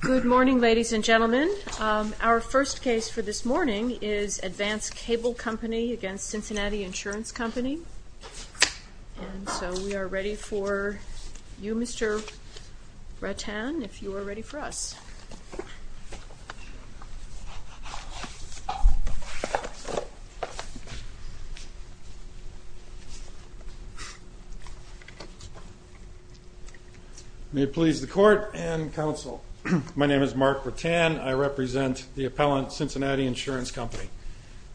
Good morning ladies and gentlemen. Our first case for this morning is Advanced Cable Company v. Cincinnati Insurance Company. And so we are ready for you Mr. Bretan if you are ready for us. May it please the court and counsel. My name is Mark Bretan. I represent the appellant Cincinnati Insurance Company.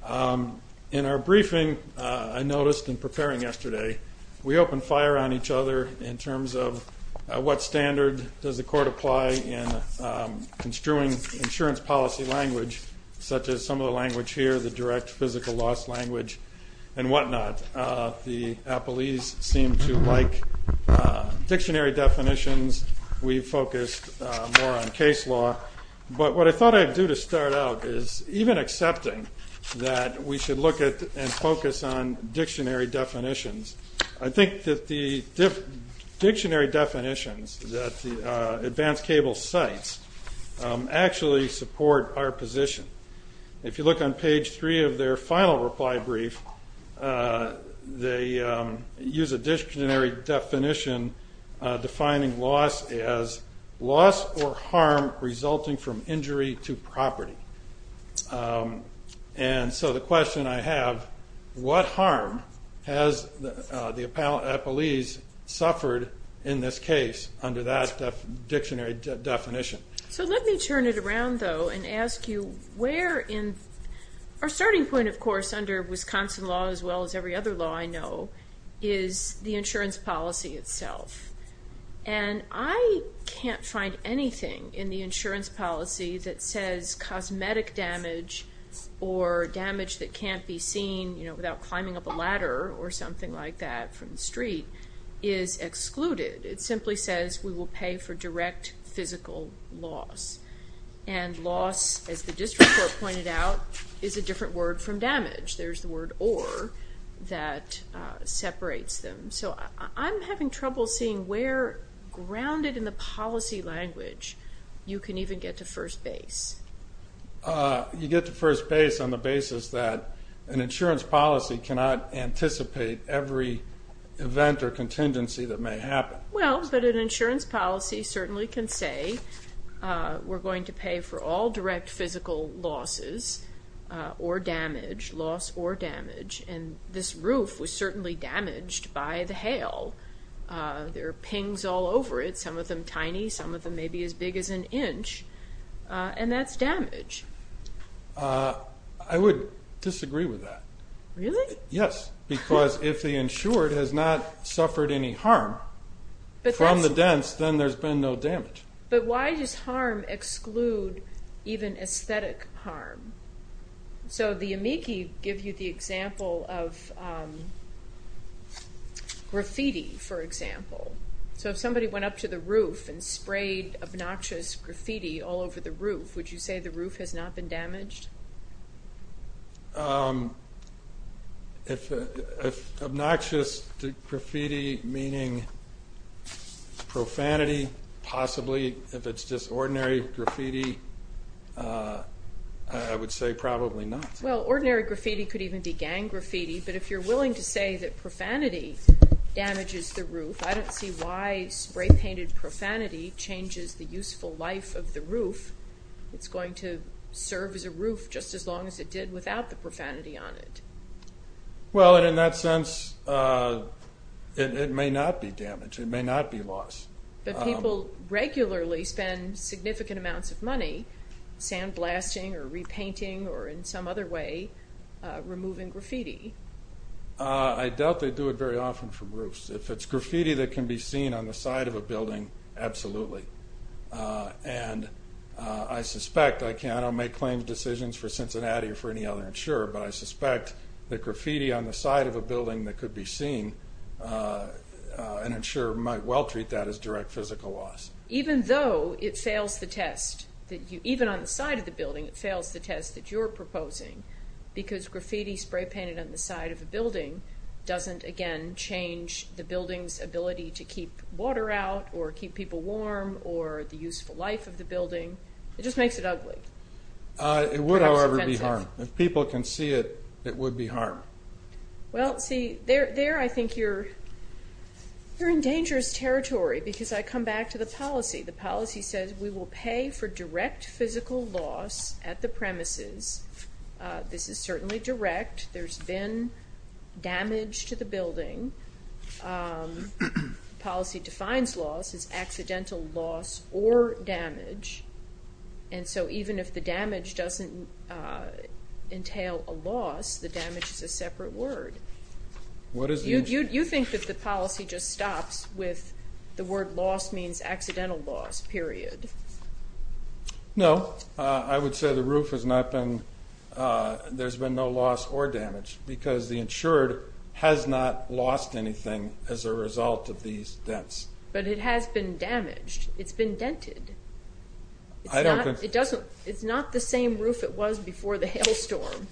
In our briefing I noticed in preparing yesterday we opened fire on each other in terms of what standard does the court apply in construing insurance policy language such as some of the language here, the direct physical loss language and what not. The appellees seem to like dictionary definitions. We focused more on case law. But what I thought I would do to start out is even accepting that we should look at and dictionary definitions. I think that the dictionary definitions that Advanced Cable cites actually support our position. If you look on page three of their final reply brief they use a dictionary definition defining loss as loss or harm resulting from injury to property. And so the question I have what harm has the appellees suffered in this case under that dictionary definition? So let me turn it around though and ask you where in our starting point of course under Wisconsin law as well as every other law I know is the says cosmetic damage or damage that can't be seen without climbing up a ladder or something like that from the street is excluded. It simply says we will pay for direct physical loss and loss as the district court pointed out is a different word from damage. There's the word or that separates them. So I'm having trouble seeing where grounded in the policy language you can even get to first base. You get to first base on the basis that an insurance policy cannot anticipate every event or contingency that may happen. Well but an insurance policy certainly can say we're going to pay for all direct physical losses or damage loss or damage and this roof was certainly damaged by the hail. There are pings all over it, some of them tiny, some of them maybe as big as an inch and that's damage. I would disagree with that. Really? Yes because if the insured has not suffered any harm from the dents then there's been no damage. But why does harm exclude even aesthetic harm? So the amici give you the example of graffiti for example. So if somebody went up to the roof and sprayed obnoxious graffiti all over the roof would you say the roof has not been damaged? If obnoxious graffiti meaning profanity possibly if it's just ordinary graffiti I would say probably not. Well ordinary graffiti could even be gang graffiti but if you're willing to say that profanity damages the roof I don't see why spray painted profanity changes the useful life of the roof. It's going to serve as a roof just as long as it did without the profanity on it. Well in that sense it may not be damaged, it may not be lost. But people regularly spend significant amounts of money sandblasting or repainting or in some other way removing graffiti. I doubt they do it very often for roofs. If it's graffiti that can be seen on the side of a building, absolutely. And I suspect, I don't make claims decisions for Cincinnati or for any other insurer, but I suspect that is direct physical loss. Even though it fails the test, even on the side of the building it fails the test that you're proposing because graffiti spray painted on the side of a building doesn't again change the building's ability to keep water out or keep people warm or the useful life of the building. It just makes it ugly. It would however be harm. If people can see it, it would be harm. Well see, there I think you're in dangerous territory because I come back to the policy. The policy says we will pay for direct physical loss at the premises. This is certainly direct. There's been damage to the building. The policy defines loss as accidental loss or damage. And so even if the damage doesn't entail a loss, the damage is a separate word. You think that the policy just stops with the word loss means accidental loss, period. No, I would say the roof has not been, there's been no loss or damage, but it has been damaged. It's been dented. It's not the same roof it was before the hail storm.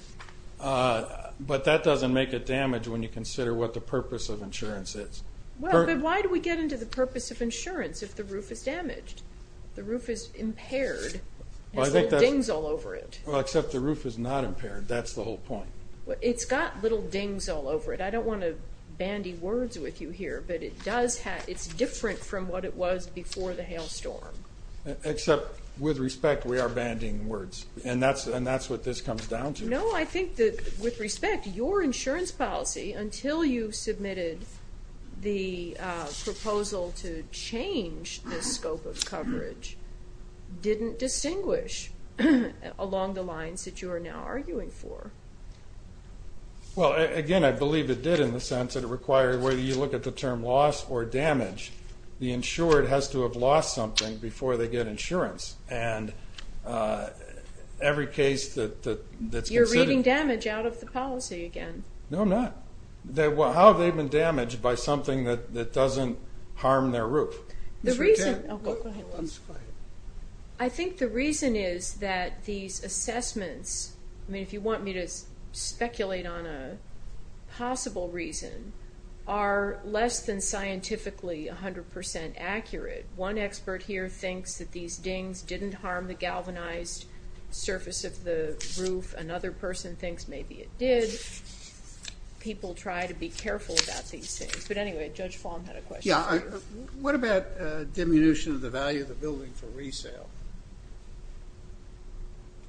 But that doesn't make it damage when you consider what the purpose of insurance is. But why do we get into the purpose of insurance if the roof is damaged? The roof is impaired. There's little dings all over it. Well except the roof is not impaired. That's the whole point. It's got little dings all over it. I don't want to bandy words with you here, but it does have, it's different from what it was before the hail storm. Except with respect, we are bandying words. And that's what this comes down to. No, I think that with respect, your insurance policy, until you submitted the proposal to change the scope of coverage, didn't distinguish along the lines that you are now arguing for. Well again, I believe it did in the sense that it required, whether you look at the term loss or damage, the insured has to have lost something before they get insurance. And every case that's considered. You're reading damage out of the policy again. No, I'm not. How have they been damaged by something that doesn't harm their roof? The reason, I think the reason is that these assessments, I mean if you want me to speculate on a possible reason, are less than scientifically 100% accurate. One expert here thinks that these dings didn't harm the galvanized surface of the roof. Another person thinks maybe it did. People try to be careful about these things. But anyway, Judge Fulham had a question. Yeah, what about diminution of the value of the building for resale?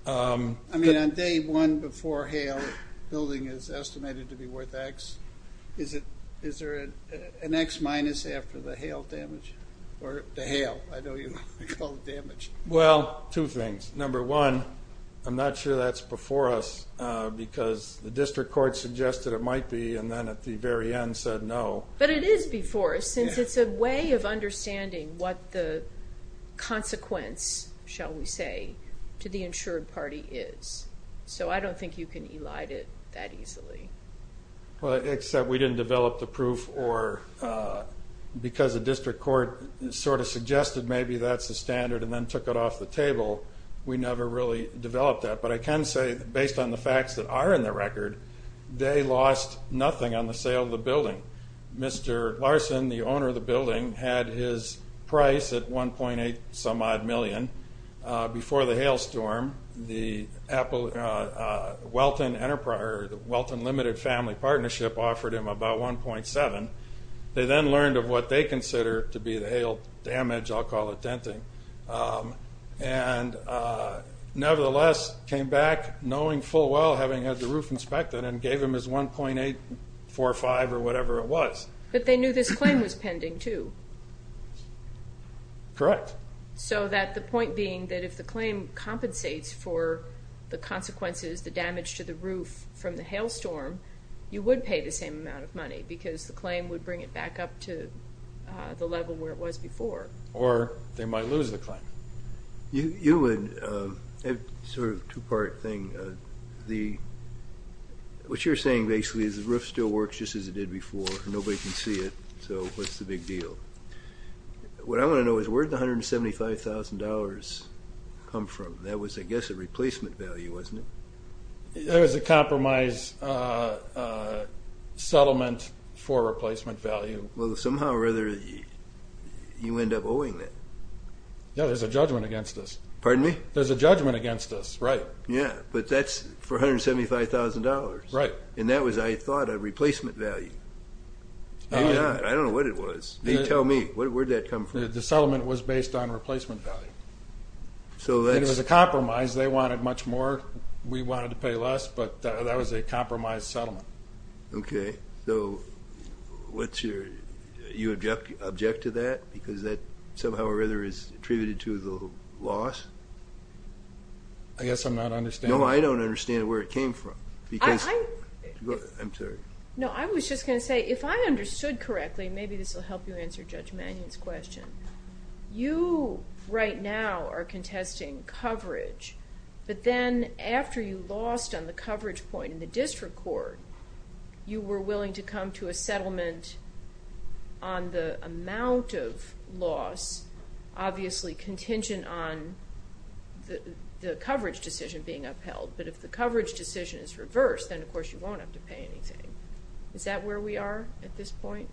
I mean on day one before hail, the building is estimated to be worth X. Is there an X minus after the hail damage? Or the hail, I know you call it damage. Well, two things. Number one, I'm not sure that's before us because the district court suggested it might be and then at the very end said no. But it is before us since it's a way of understanding what the consequence, shall we say, to the insured party is. So I don't think you can elide it that easily. Well except we didn't develop the proof or because the district court sort of suggested maybe that's the standard and then took it off the table. We never really developed that. But I can say based on the report, Larson, the owner of the building, had his price at 1.8 some odd million. Before the hail storm, the Welton Limited Family Partnership offered him about 1.7. They then learned of what they consider to be the hail damage, I'll call it denting, and nevertheless came back knowing full well having had the roof inspected and gave him his 1.845 or whatever it was. But they knew this claim was pending too. Correct. So that the point being that if the claim compensates for the consequences, the damage to the roof from the hail storm, you would pay the same amount of money because the claim would bring it back up to the level where it was before. Or they might lose the claim. You would, sort of two part thing, the... What you're saying basically is the roof still works just as it did before, nobody can see it, so what's the big deal? What I want to know is where did the $175,000 come from? That was, I guess, a replacement value, wasn't it? It was a compromise settlement for replacement value. Well, somehow or other, you end up owing that. Yeah, there's a judgment against us, right. Yeah, but that's for $175,000. Right. And that was, I thought, a replacement value. Maybe not, I don't know what it was. Tell me, where'd that come from? The settlement was based on replacement value. So that's... It was a compromise, they wanted much more, we wanted to pay less, but that was a compromise settlement. Okay, so what's your... You object to that, because that somehow or other is attributed to the loss? I guess I'm not understanding... No, I don't understand where it came from, because... I... I'm sorry. No, I was just going to say, if I understood correctly, maybe this will help you answer Judge Mannion's question. You, right now, are contesting coverage, but then after you lost on the coverage point in the district court, you were willing to come to a settlement on the amount of loss, obviously contingent on the coverage decision being upheld, but if the coverage decision is reversed, then of course you won't have to pay anything. Is that where we are at this point?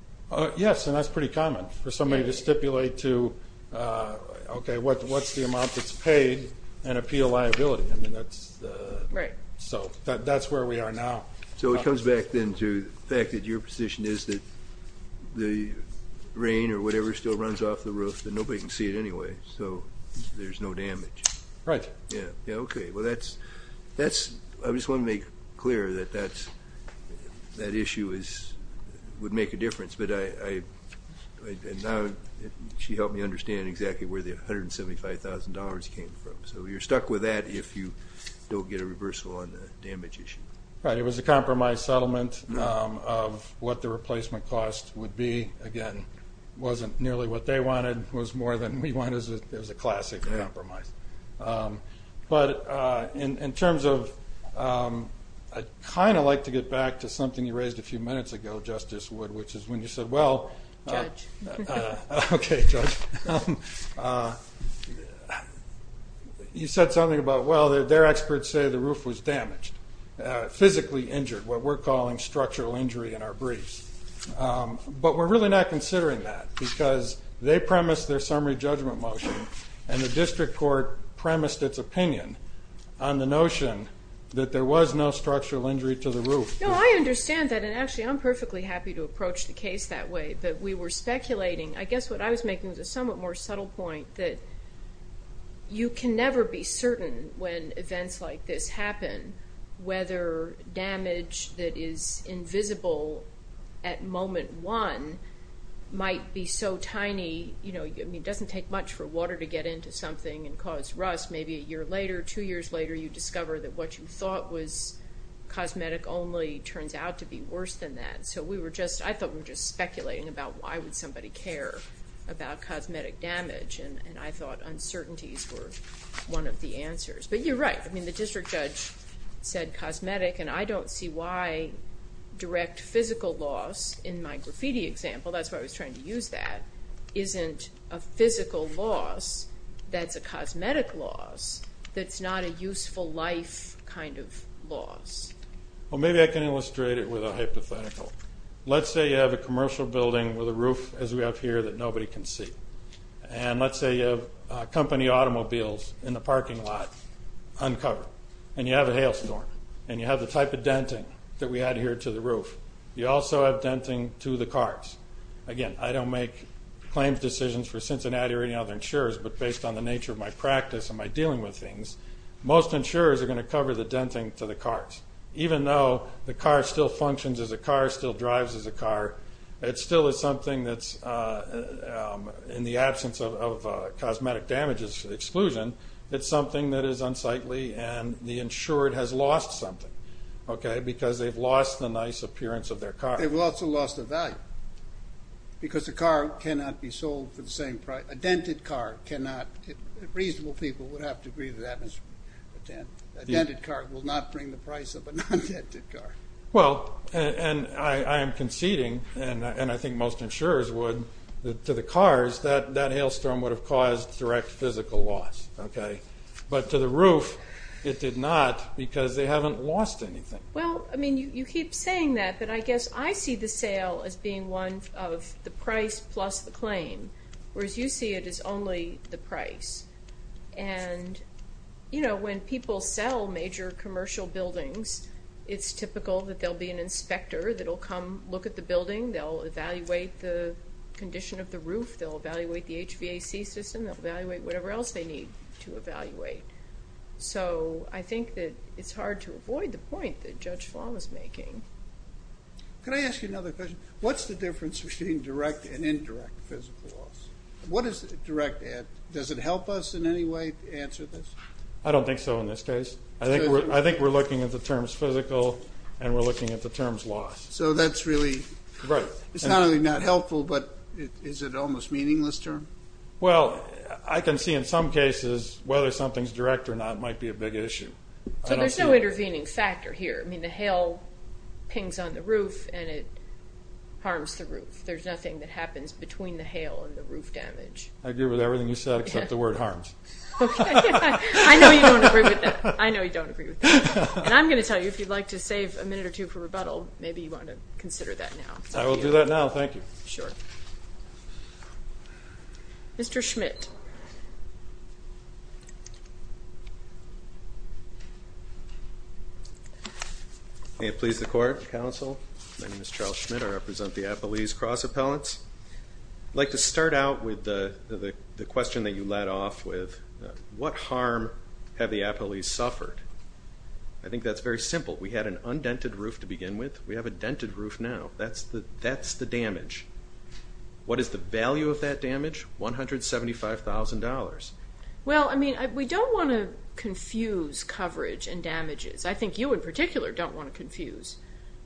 Yes, and that's pretty common for somebody to stipulate to, okay, what's the amount that's there now? So it comes back then to the fact that your position is that the rain or whatever still runs off the roof, that nobody can see it anyway, so there's no damage. Right. Yeah, okay, well that's... That's... I just want to make clear that that's... That issue is... Would make a difference, but I... And now she helped me understand exactly where the $175,000 came from, so you're stuck with that if you don't get a reversal on the damage issue. Right, it was a compromise settlement of what the replacement cost would be. Again, wasn't nearly what they wanted. It was more than we wanted. It was a classic compromise, but in terms of... I'd kind of like to get back to something you raised a few minutes ago, Justice Wood, which is when you said, well... Judge. Okay, Judge. You said something about, well, their experts say the roof was damaged, physically injured, what we're calling structural injury in our briefs. But we're really not considering that, because they premised their summary judgment motion, and the district court premised its opinion on the notion that there was no structural injury to the roof. No, I understand that, and actually I'm perfectly happy to approach the case that way, but we were speculating... I guess what I was making was a somewhat more subtle point that you can never be certain when events like this happen, whether damage that is invisible at moment one might be so tiny... It doesn't take much for water to get into something and cause rust. Maybe a year later, two years later you discover that what you thought was cosmetic only turns out to be worse than that. So we were just... I thought we were just speculating about why would somebody care about cosmetic damage, and I thought uncertainties were one of the answers. But you're right. I mean, the district judge said cosmetic, and I don't see why direct physical loss, in my graffiti example, that's why I was trying to use that, isn't a physical loss that's a cosmetic loss that's not a useful life kind of loss. Well, maybe I can illustrate it with a hypothetical. Let's say you have a commercial building with a roof as we have here that nobody can see, and let's say you have company automobiles in the parking lot uncovered, and you have a hailstorm, and you have the type of denting that we had here to the roof. You also have denting to the cars. Again, I don't make claims decisions for Cincinnati or any other insurers, but based on the nature of my practice and my dealing with things, most insurers are going to cover the denting to the cars, even though the car still functions as a car, still drives as a car, it still is something that's in the absence of cosmetic damages exclusion, it's something that is unsightly, and the insured has lost something. Because they've lost the nice appearance of their car. They've also lost the value. Because a car cannot be sold for the same price, a dented car cannot, reasonable people would have to agree to that Mr. Patan. A dented car will not bring the price of a non-dented car. Well, and I am conceding, and I think most insurers would, that to the cars, that hailstorm would have caused direct physical loss. But to the roof, it did not, because they haven't lost anything. Well, I mean, you keep saying that, but I guess I see the sale as being one of the price plus the claim, whereas you see it as only the price. And, you know, when people sell major commercial buildings, it's typical that there will be an inspector that will come look at the building, they'll evaluate the condition of the roof, they'll evaluate the HVAC system, they'll evaluate whatever else they need to evaluate. So, I think that it's hard to avoid the point that Judge Flom is making. Could I ask you another question? What's the difference between direct and indirect physical loss? What does direct add? Does it help us in any way to answer this? I don't think so in this case. I think we're looking at the terms physical, and we're looking at the terms loss. So that's really, it's not only not helpful, but is it almost meaningless term? Well, I can see in some cases whether something's direct or not might be a big issue. So there's no intervening factor here. I mean, the hail pings on the roof and it harms the roof. There's nothing that happens between the hail and the roof damage. I agree with everything you said except the word harms. Okay. I know you don't agree with that. I know you don't agree with that. And I'm going to tell you, if you'd like to save a minute or two for rebuttal, maybe you want to consider that now. I will do that now. Thank you. Sure. Mr. Schmidt. May it please the Court, Counsel? My name is Charles Schmidt. I represent the Appalese Cross Appellants. I'd like to start out with the question that you led off with. What harm have the Appalese suffered? I think that's very simple. We had an undented roof to begin with. We have a dented roof now. That's the damage. What is the value of that damage? $175,000. Well, I mean, we don't want to confuse coverage and damages. I think you in particular don't want to confuse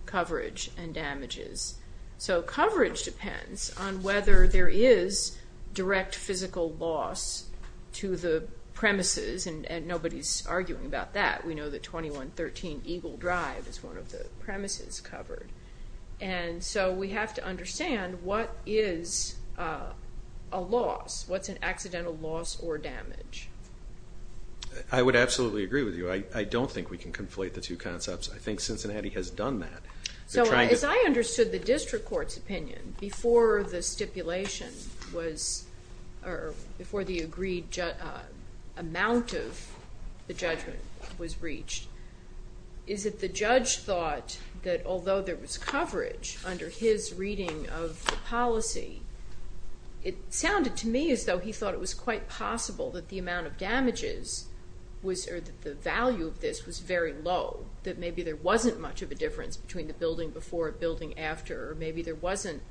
coverage and damages. So coverage depends on whether there is direct physical loss to the premises, and nobody's arguing about that. We know that 2113 Eagle Drive is one of the premises covered. And so we have to understand what is a loss, what's an accidental loss or damage. I would absolutely agree with you. I don't think we can conflate the two concepts. I think Cincinnati has done that. So as I understood the district court's opinion before the stipulation was or before the agreed amount of the judgment was reached, is that the judge thought that although there was coverage under his reading of the policy, it sounded to me as though he thought it was quite possible that the amount of damages was or that the value of this was very low, that maybe there wasn't much of a difference between the building before and building after, or maybe there wasn't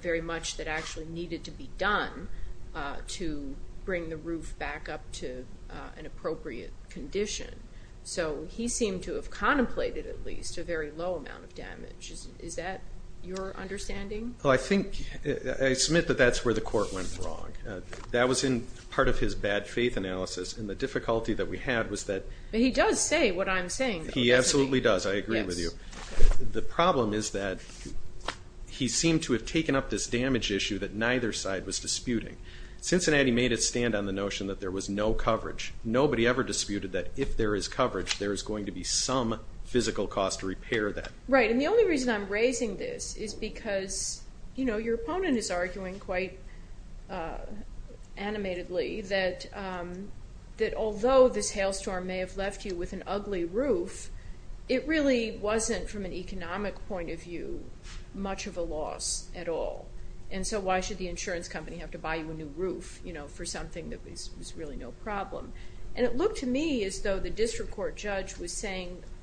very much that actually needed to be done to bring the roof back up to an appropriate condition. Is that your understanding? I submit that that's where the court went wrong. That was in part of his bad faith analysis, and the difficulty that we had was that he does say what I'm saying. He absolutely does. I agree with you. The problem is that he seemed to have taken up this damage issue that neither side was disputing. Cincinnati made a stand on the notion that there was no coverage. Nobody ever disputed that if there is coverage, there is going to be some physical cost to repair that. Right, and the only reason I'm raising this is because your opponent is arguing quite animatedly that although this hailstorm may have left you with an ugly roof, it really wasn't from an economic point of view much of a loss at all. And so why should the insurance company have to buy you a new roof for something that was really no problem?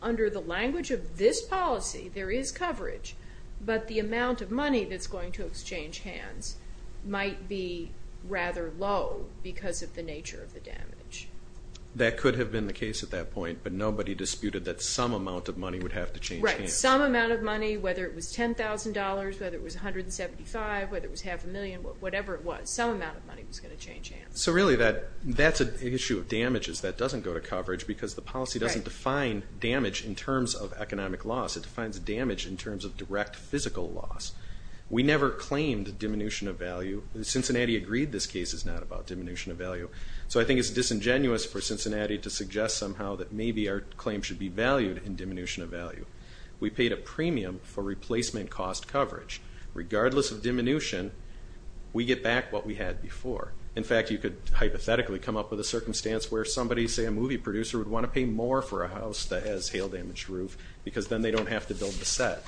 Under the language of this policy, there is coverage, but the amount of money that's going to exchange hands might be rather low because of the nature of the damage. That could have been the case at that point, but nobody disputed that some amount of money would have to change hands. Right, some amount of money, whether it was $10,000, whether it was $175,000, whether it was half a million, whatever it was, some amount of money was going to change hands. So really that's an issue of damages that doesn't go to coverage because the policy doesn't define damage in terms of economic loss. It defines damage in terms of direct physical loss. We never claimed diminution of value. Cincinnati agreed this case is not about diminution of value. So I think it's disingenuous for Cincinnati to suggest somehow that maybe our claim should be valued in diminution of value. We paid a premium for replacement cost coverage. Regardless of diminution, we get back what we had before. In fact, you could hypothetically come up with a circumstance where somebody, say a movie producer, would want to pay more for a house that has a hail-damaged roof because then they don't have to build the set.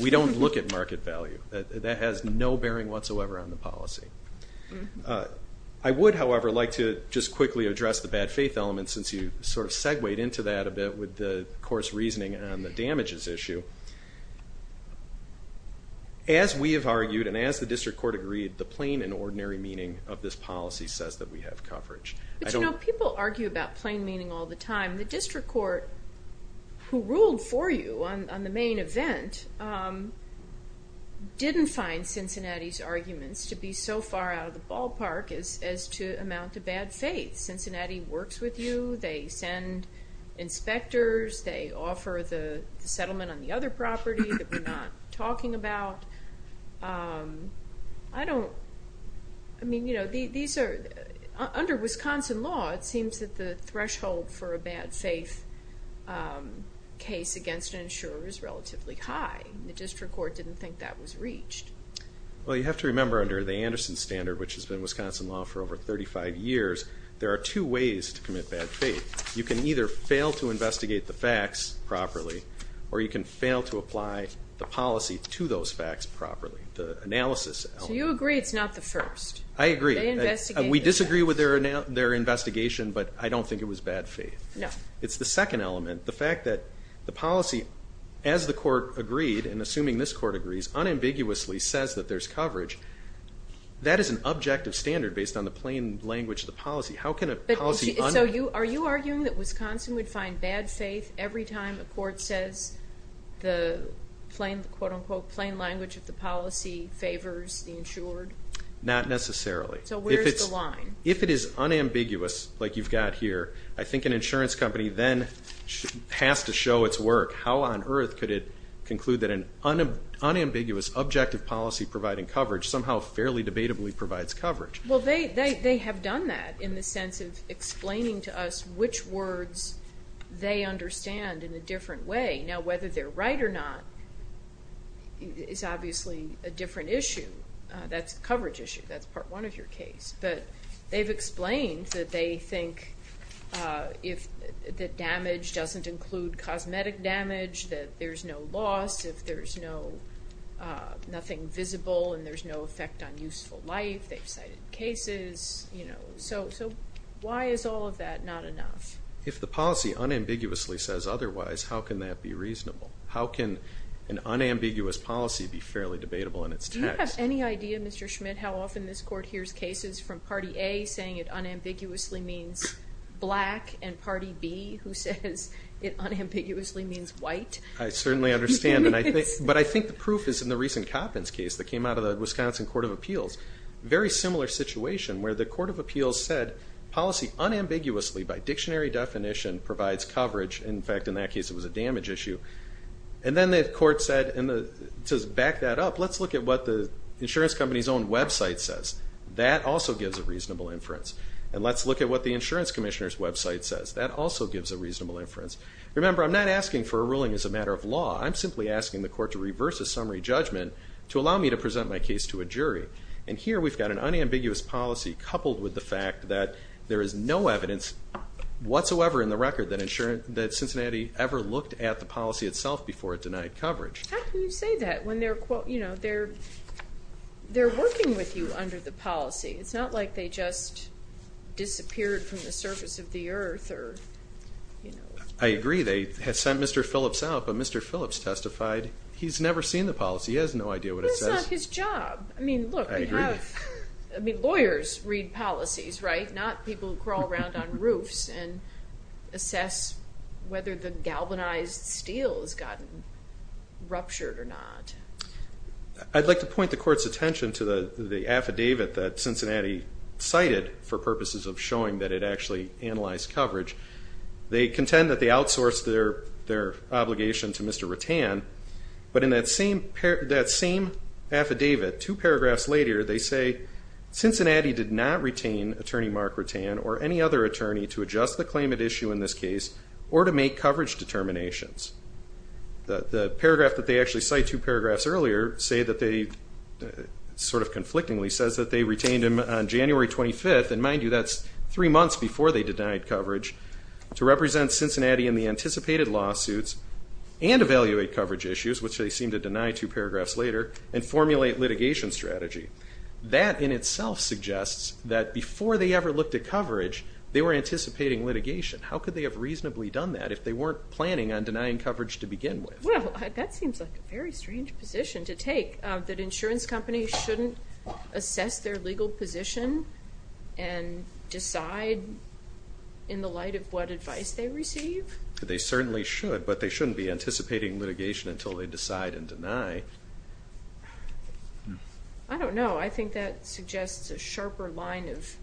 We don't look at market value. That has no bearing whatsoever on the policy. I would, however, like to just quickly address the bad faith element since you sort of segued into that a bit with the course reasoning on the damages issue. As we have argued and as the district court agreed, the plain and ordinary meaning of this policy says that we have coverage. But, you know, people argue about plain meaning all the time. The district court, who ruled for you on the main event, didn't find Cincinnati's arguments to be so far out of the ballpark as to amount to bad faith. Cincinnati works with you. They send inspectors. They offer the settlement on the other property that we're not talking about. I don't, I mean, you know, these are, under Wisconsin law, it seems that the threshold for a bad faith case against an insurer is relatively high. The district court didn't think that was reached. Well, you have to remember under the Anderson Standard, which has been Wisconsin law for over 35 years, there are two ways to commit bad faith. You can either fail to investigate the facts properly or you can fail to apply the policy to those facts properly, the analysis element. So you agree it's not the first? I agree. We disagree with their investigation, but I don't think it was bad faith. No. It's the second element, the fact that the policy, as the court agreed and assuming this court agrees, unambiguously says that there's coverage. That is an objective standard based on the plain language of the policy. How can a policy un- So are you arguing that Wisconsin would find bad faith every time a court says the plain, quote-unquote, plain language of the policy favors the insured? Not necessarily. So where's the line? If it is unambiguous, like you've got here, I think an insurance company then has to show its work. How on earth could it conclude that an unambiguous objective policy providing coverage somehow fairly debatably provides coverage? Well, they have done that in the sense of explaining to us which words they understand in a different way. Now, whether they're right or not is obviously a different issue. That's a coverage issue. That's part one of your case. But they've explained that they think that damage doesn't include cosmetic damage, that there's no loss if there's nothing visible and there's no effect on useful life. They've cited cases. So why is all of that not enough? If the policy unambiguously says otherwise, how can that be reasonable? How can an unambiguous policy be fairly debatable in its text? Do you have any idea, Mr. Schmidt, how often this court hears cases from Party A saying it unambiguously means black and Party B who says it unambiguously means white? I certainly understand. But I think the proof is in the recent Coppins case that came out of the Wisconsin Court of Appeals. Very similar situation where the Court of Appeals said policy unambiguously, by dictionary definition, provides coverage. In fact, in that case it was a damage issue. And then the court said, to back that up, let's look at what the insurance company's own website says. That also gives a reasonable inference. And let's look at what the insurance commissioner's website says. That also gives a reasonable inference. Remember, I'm not asking for a ruling as a matter of law. I'm simply asking the court to reverse a summary judgment to allow me to present my case to a jury. And here we've got an unambiguous policy coupled with the fact that there is no evidence whatsoever in the record that Cincinnati ever looked at the policy itself before it denied coverage. How can you say that when they're working with you under the policy? It's not like they just disappeared from the surface of the earth. I agree. They sent Mr. Phillips out, but Mr. Phillips testified he's never seen the policy. He has no idea what it says. But that's not his job. I mean, look. I agree. I mean, lawyers read policies, right? Not people who crawl around on roofs and assess whether the galvanized steel has gotten ruptured or not. I'd like to point the court's attention to the affidavit that Cincinnati cited for purposes of showing that it actually analyzed coverage. They contend that they outsourced their obligation to Mr. Rattan, but in that same affidavit, two paragraphs later, they say Cincinnati did not retain Attorney Mark Rattan or any other attorney to adjust the claim at issue in this case or to make coverage determinations. The paragraph that they actually cite, two paragraphs earlier, say that they sort of conflictingly says that they retained him on January 25th, and mind you, that's three months before they denied coverage, to represent Cincinnati in the anticipated lawsuits and evaluate coverage issues, which they seem to deny two paragraphs later, and formulate litigation strategy. That in itself suggests that before they ever looked at coverage, they were anticipating litigation. How could they have reasonably done that if they weren't planning on denying coverage to begin with? Well, that seems like a very strange position to take, that insurance companies shouldn't assess their legal position and decide in the light of what advice they receive. They certainly should, but they shouldn't be anticipating litigation until they decide and deny. I don't know. I think that suggests a sharper line of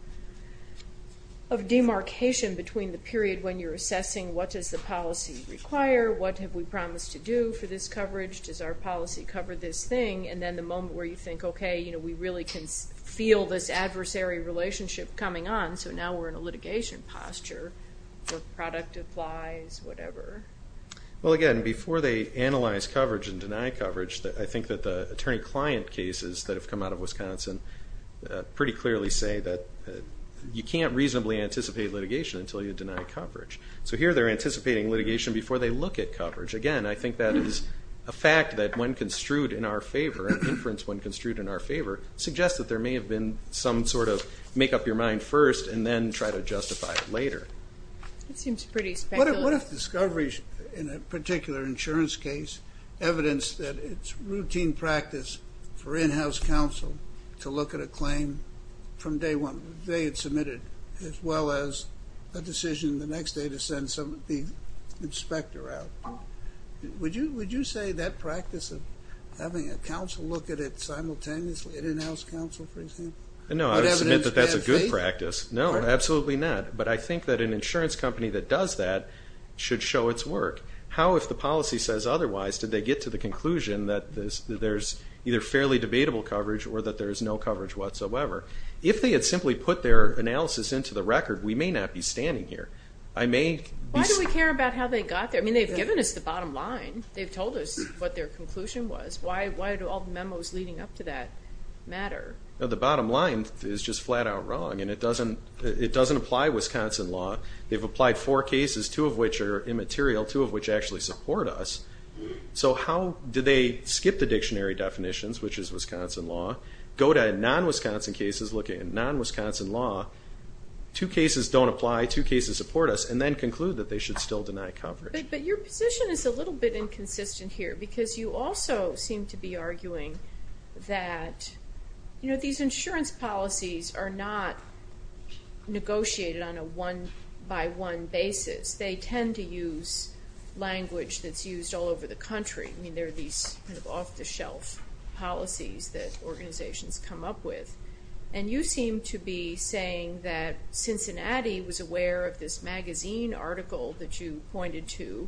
demarcation between the period when you're assessing what does the policy require, what have we promised to do for this coverage, and then the moment where you think, okay, we really can feel this adversary relationship coming on, so now we're in a litigation posture where product applies, whatever. Well, again, before they analyze coverage and deny coverage, I think that the attorney-client cases that have come out of Wisconsin pretty clearly say that you can't reasonably anticipate litigation until you deny coverage. So here they're anticipating litigation before they look at coverage. Again, I think that is a fact that when construed in our favor, and inference when construed in our favor, suggests that there may have been some sort of make up your mind first and then try to justify it later. It seems pretty speculative. What if discovery in a particular insurance case evidenced that it's routine practice for in-house counsel to look at a claim from day one, the day it's submitted, as well as a decision the next day to send the inspector out? Would you say that practice of having a counsel look at it simultaneously at in-house counsel, for example? No, I would submit that that's a good practice. No, absolutely not. But I think that an insurance company that does that should show its work. How, if the policy says otherwise, did they get to the conclusion that there's either fairly debatable coverage or that there's no coverage whatsoever? If they had simply put their analysis into the record, we may not be standing here. Why do we care about how they got there? I mean, they've given us the bottom line. They've told us what their conclusion was. Why do all the memos leading up to that matter? The bottom line is just flat-out wrong, and it doesn't apply to Wisconsin law. They've applied four cases, two of which are immaterial, two of which actually support us. So how did they skip the dictionary definitions, which is Wisconsin law, go to non-Wisconsin cases looking at non-Wisconsin law, two cases don't apply, two cases support us, and then conclude that they should still deny coverage? But your position is a little bit inconsistent here because you also seem to be arguing that these insurance policies are not negotiated on a one-by-one basis. They tend to use language that's used all over the country. I mean, there are these kind of off-the-shelf policies that organizations come up with. And you seem to be saying that Cincinnati was aware of this magazine article that you pointed to,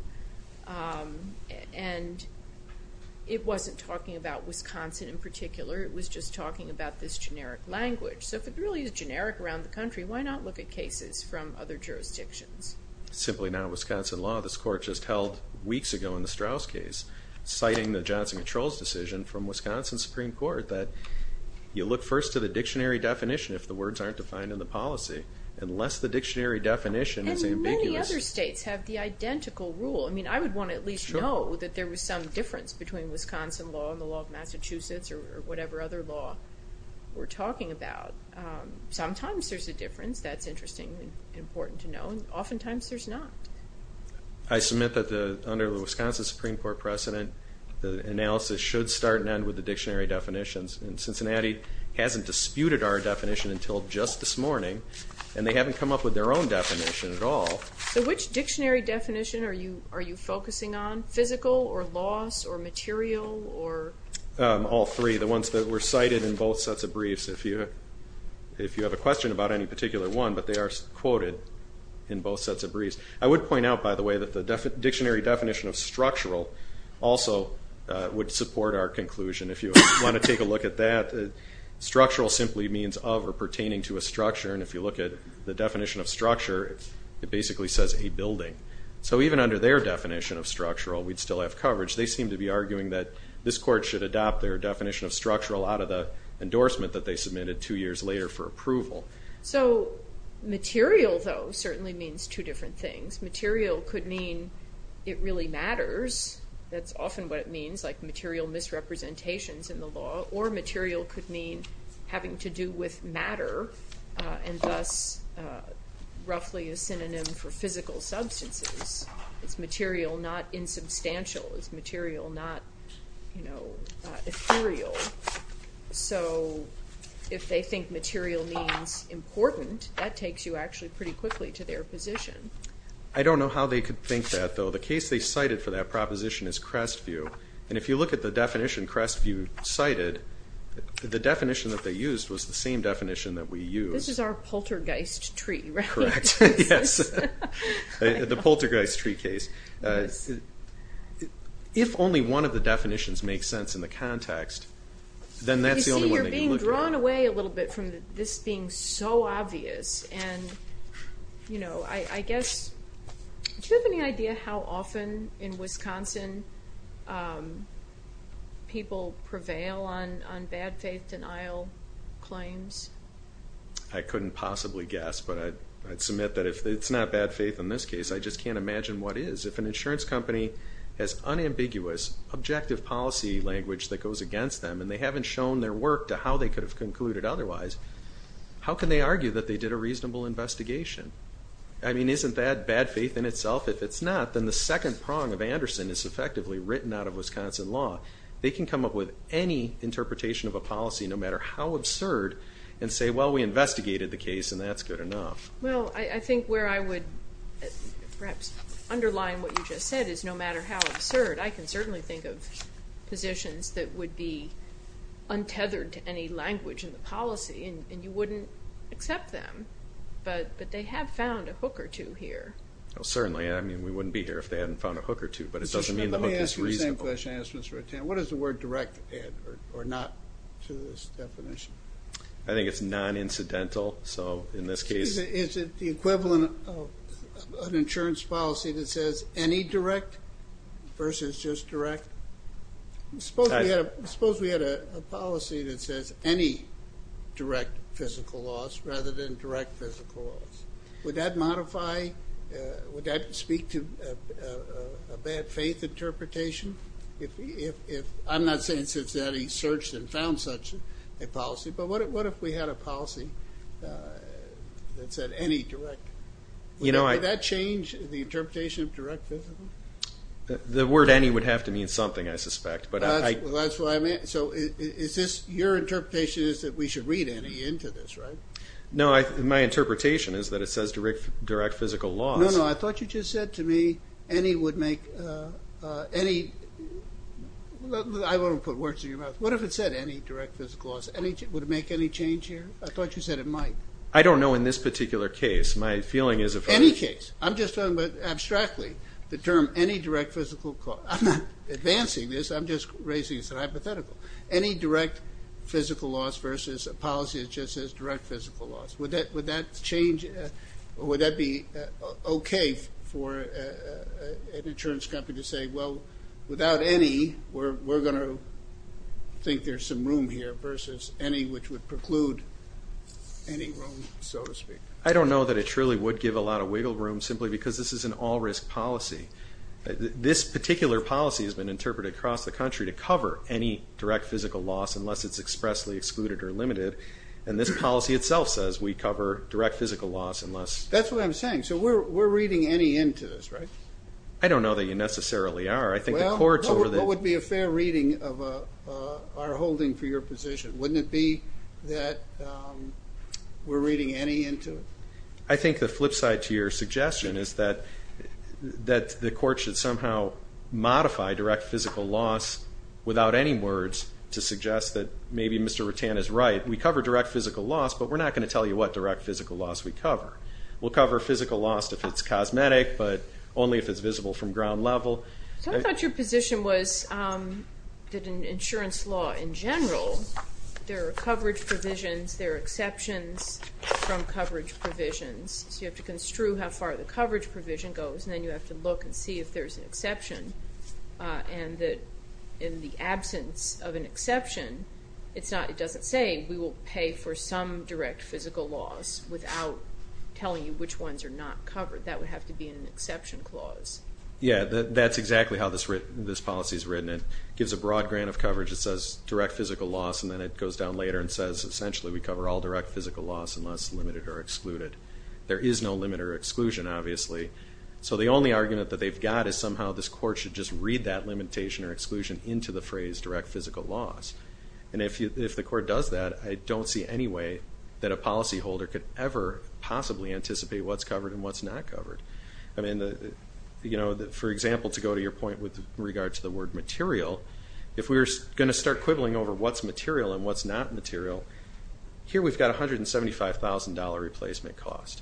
and it wasn't talking about Wisconsin in particular. It was just talking about this generic language. So if it really is generic around the country, why not look at cases from other jurisdictions? Simply non-Wisconsin law. This court just held weeks ago in the Straus case, citing the Johnson Controls decision from Wisconsin Supreme Court that you look first to the dictionary definition if the words aren't defined in the policy, unless the dictionary definition is ambiguous. And many other states have the identical rule. I mean, I would want to at least know that there was some difference between Wisconsin law and the law of Massachusetts or whatever other law we're talking about. Sometimes there's a difference. That's interesting and important to know. And oftentimes there's not. I submit that under the Wisconsin Supreme Court precedent, the analysis should start and end with the dictionary definitions. And Cincinnati hasn't disputed our definition until just this morning, and they haven't come up with their own definition at all. So which dictionary definition are you focusing on, physical or laws or material or? All three, the ones that were cited in both sets of briefs. If you have a question about any particular one, but they are quoted in both sets of briefs. I would point out, by the way, that the dictionary definition of structural also would support our conclusion. If you want to take a look at that, structural simply means of or pertaining to a structure. And if you look at the definition of structure, it basically says a building. So even under their definition of structural, we'd still have coverage. They seem to be arguing that this court should adopt their definition of structural out of the endorsement that they submitted two years later for approval. So material, though, certainly means two different things. Material could mean it really matters. That's often what it means, like material misrepresentations in the law. Or material could mean having to do with matter, and thus roughly a synonym for physical substances. It's material, not insubstantial. It's material, not, you know, ethereal. So if they think material means important, that takes you actually pretty quickly to their position. I don't know how they could think that, though. The case they cited for that proposition is Crestview. And if you look at the definition Crestview cited, the definition that they used was the same definition that we used. This is our poltergeist tree, right? Correct. Yes. The poltergeist tree case. If only one of the definitions makes sense in the context, then that's the only one they can look at. We've gone away a little bit from this being so obvious. And, you know, I guess, do you have any idea how often in Wisconsin people prevail on bad faith denial claims? I couldn't possibly guess, but I'd submit that if it's not bad faith in this case, I just can't imagine what is. If an insurance company has unambiguous, objective policy language that goes against them and they haven't shown their work to how they could have concluded otherwise, how can they argue that they did a reasonable investigation? I mean, isn't that bad faith in itself? If it's not, then the second prong of Anderson is effectively written out of Wisconsin law. They can come up with any interpretation of a policy, no matter how absurd, and say, well, we investigated the case and that's good enough. Well, I think where I would perhaps underline what you just said is no matter how absurd, I can certainly think of positions that would be untethered to any language in the policy and you wouldn't accept them, but they have found a hook or two here. Well, certainly. I mean, we wouldn't be here if they hadn't found a hook or two, but it doesn't mean the hook is reasonable. Let me ask you the same question I asked Mr. Ratan. What does the word direct add or not to this definition? I think it's non-incidental. Is it the equivalent of an insurance policy that says any direct versus just direct? Suppose we had a policy that says any direct physical loss rather than direct physical loss. Would that modify, would that speak to a bad faith interpretation? I'm not saying that he searched and found such a policy, but what if we had a policy that said any direct? Would that change the interpretation of direct physical? The word any would have to mean something, I suspect. That's what I meant. So your interpretation is that we should read any into this, right? No, my interpretation is that it says direct physical loss. No, no, I thought you just said to me any would make, any, I won't put words in your mouth. What if it said any direct physical loss? Would it make any change here? I thought you said it might. I don't know in this particular case. Any case. I'm just talking about abstractly the term any direct physical cost. I'm not advancing this, I'm just raising it as a hypothetical. Any direct physical loss versus a policy that just says direct physical loss. Would that change, would that be okay for an insurance company to say, well, without any, we're going to think there's some room here versus any which would preclude any room, so to speak. I don't know that it truly would give a lot of wiggle room simply because this is an all-risk policy. This particular policy has been interpreted across the country to cover any direct physical loss unless it's expressly excluded or limited, and this policy itself says we cover direct physical loss unless. That's what I'm saying. So we're reading any into this, right? I don't know that you necessarily are. Well, what would be a fair reading of our holding for your position? Wouldn't it be that we're reading any into it? I think the flip side to your suggestion is that the court should somehow modify direct physical loss without any words to suggest that maybe Mr. Rutan is right. We cover direct physical loss, but we're not going to tell you what direct physical loss we cover. We'll cover physical loss if it's cosmetic, but only if it's visible from ground level. So I thought your position was that in insurance law in general, there are coverage provisions, there are exceptions from coverage provisions, so you have to construe how far the coverage provision goes, and then you have to look and see if there's an exception, and that in the absence of an exception, it doesn't say we will pay for some direct physical loss without telling you which ones are not covered. That would have to be an exception clause. Yeah, that's exactly how this policy is written. It gives a broad grant of coverage that says direct physical loss, and then it goes down later and says essentially we cover all direct physical loss unless limited or excluded. There is no limit or exclusion, obviously. So the only argument that they've got is somehow this court should just read that And if the court does that, I don't see any way that a policyholder could ever possibly anticipate what's covered and what's not covered. I mean, for example, to go to your point with regard to the word material, if we're going to start quibbling over what's material and what's not material, here we've got $175,000 replacement cost.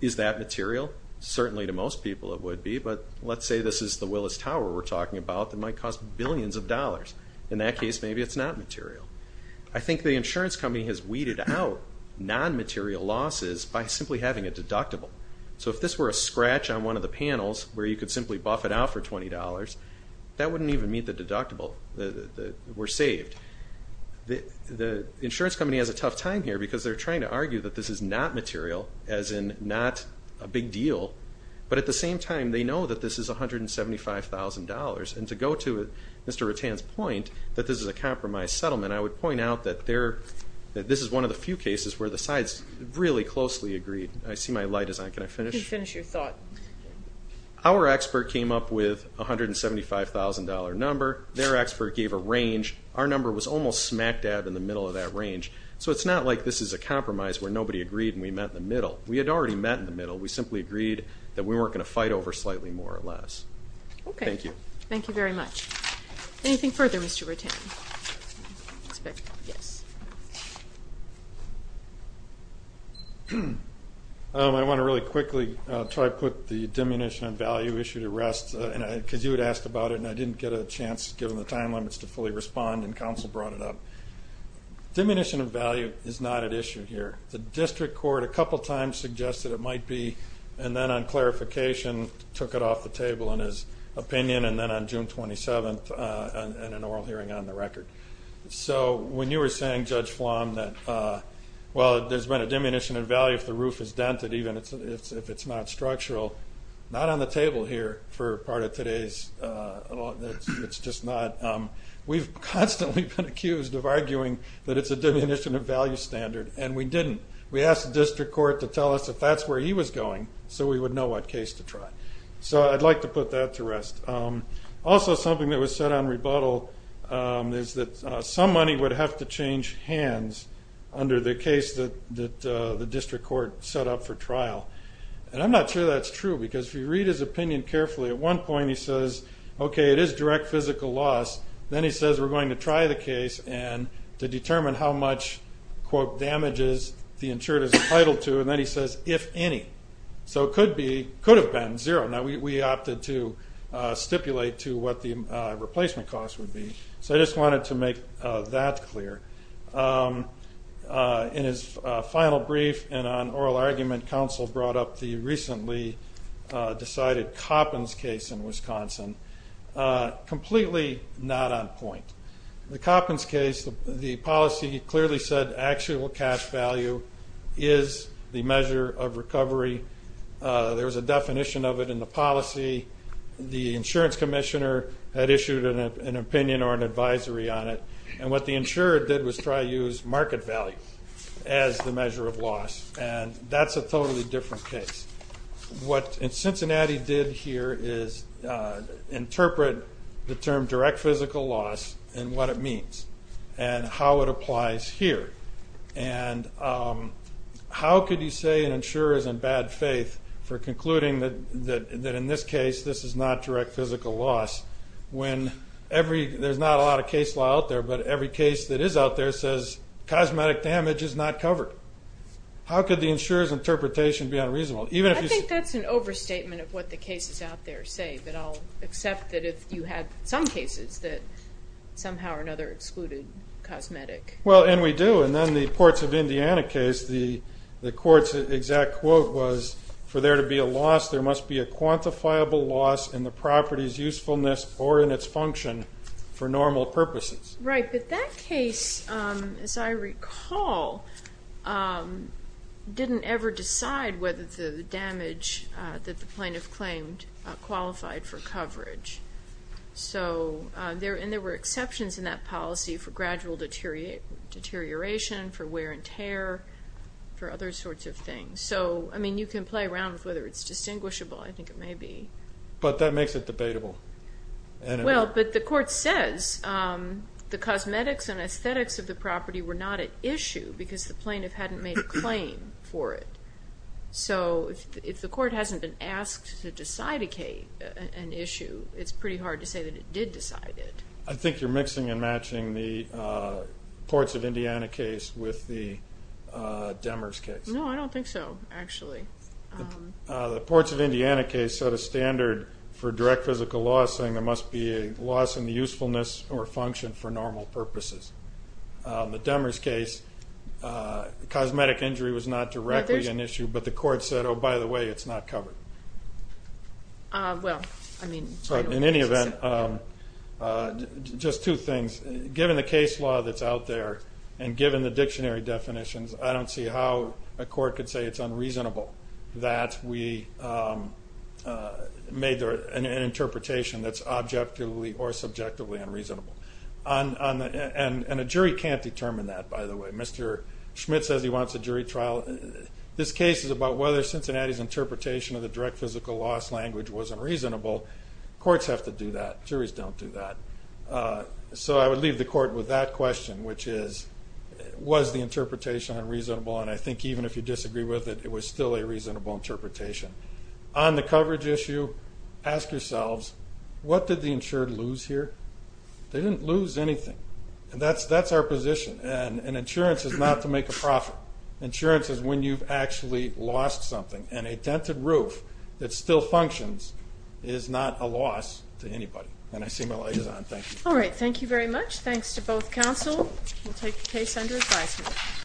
Is that material? Certainly to most people it would be, but let's say this is the Willis Tower we're talking about that might cost billions of dollars. In that case, maybe it's not material. I think the insurance company has weeded out non-material losses by simply having a deductible. So if this were a scratch on one of the panels where you could simply buff it out for $20, that wouldn't even meet the deductible. We're saved. The insurance company has a tough time here because they're trying to argue that this is not material, as in not a big deal, but at the same time they know that this is $175,000. And to go to Mr. Rutan's point that this is a compromise settlement, I would point out that this is one of the few cases where the sides really closely agreed. I see my light is on. Can I finish? You can finish your thought. Our expert came up with a $175,000 number. Their expert gave a range. Our number was almost smack dab in the middle of that range. So it's not like this is a compromise where nobody agreed and we met in the middle. We had already met in the middle. We simply agreed that we weren't going to fight over slightly more or less. Okay. Thank you. Thank you very much. Anything further, Mr. Rutan? Yes. I want to really quickly try to put the diminution of value issue to rest because you had asked about it and I didn't get a chance given the time limits to fully respond, and counsel brought it up. Diminution of value is not at issue here. The district court a couple times suggested it might be, and then on clarification took it off the table in his opinion, and then on June 27th in an oral hearing on the record. So when you were saying, Judge Flom, that while there's been a diminution of value if the roof is dented, even if it's not structural, not on the table here for part of today's. It's just not. We've constantly been accused of arguing that it's a diminution of value standard, and we didn't. We asked the district court to tell us if that's where he was going so we would know what case to try. So I'd like to put that to rest. Also something that was said on rebuttal is that some money would have to change hands under the case that the district court set up for trial. And I'm not sure that's true because if you read his opinion carefully, at one point he says, okay, it is direct physical loss. Then he says we're going to try the case and to determine how much, quote, damages the insured is entitled to. And then he says, if any. So it could have been zero. Now we opted to stipulate to what the replacement cost would be. So I just wanted to make that clear. In his final brief and on oral argument, counsel brought up the recently decided Coppins case in Wisconsin. Completely not on point. The Coppins case, the policy clearly said actual cash value is the measure of recovery. There was a definition of it in the policy. The insurance commissioner had issued an opinion or an advisory on it. And what the insurer did was try to use market value as the measure of loss. And that's a totally different case. What Cincinnati did here is interpret the term direct physical loss and what it means and how it applies here. And how could you say an insurer is in bad faith for concluding that in this case, this is not direct physical loss when there's not a lot of case law out there but every case that is out there says cosmetic damage is not covered. How could the insurer's interpretation be unreasonable? I think that's an overstatement of what the cases out there say. But I'll accept that if you had some cases that somehow or another excluded cosmetic. Well, and we do. And then the Ports of Indiana case, the court's exact quote was, for there to be a loss there must be a quantifiable loss in the property's usefulness or in its function for normal purposes. Right, but that case, as I recall, didn't ever decide whether the damage that the plaintiff claimed qualified for coverage. And there were exceptions in that policy for gradual deterioration, for wear and tear, for other sorts of things. So, I mean, you can play around with whether it's distinguishable. I think it may be. But that makes it debatable. Well, but the court says the cosmetics and aesthetics of the property were not at issue because the plaintiff hadn't made a claim for it. So if the court hasn't been asked to decide an issue, it's pretty hard to say that it did decide it. I think you're mixing and matching the Ports of Indiana case with the Demers case. No, I don't think so, actually. The Ports of Indiana case set a standard for direct physical loss, saying there must be a loss in the usefulness or function for normal purposes. The Demers case, cosmetic injury was not directly an issue, but the court said, oh, by the way, it's not covered. Well, I mean, I don't think so. In any event, just two things. Given the case law that's out there and given the dictionary definitions, I don't see how a court could say it's unreasonable that we made an interpretation that's objectively or subjectively unreasonable. And a jury can't determine that, by the way. Mr. Schmidt says he wants a jury trial. This case is about whether Cincinnati's interpretation of the direct physical loss language was unreasonable. Courts have to do that. Juries don't do that. So I would leave the court with that question, which is, was the interpretation unreasonable? And I think even if you disagree with it, it was still a reasonable interpretation. On the coverage issue, ask yourselves, what did the insured lose here? They didn't lose anything. And that's our position. And insurance is not to make a profit. Insurance is when you've actually lost something. And a tented roof that still functions is not a loss to anybody. And I see my liaison. Thank you. All right, thank you very much. Thanks to both counsel. We'll take the case under advisement.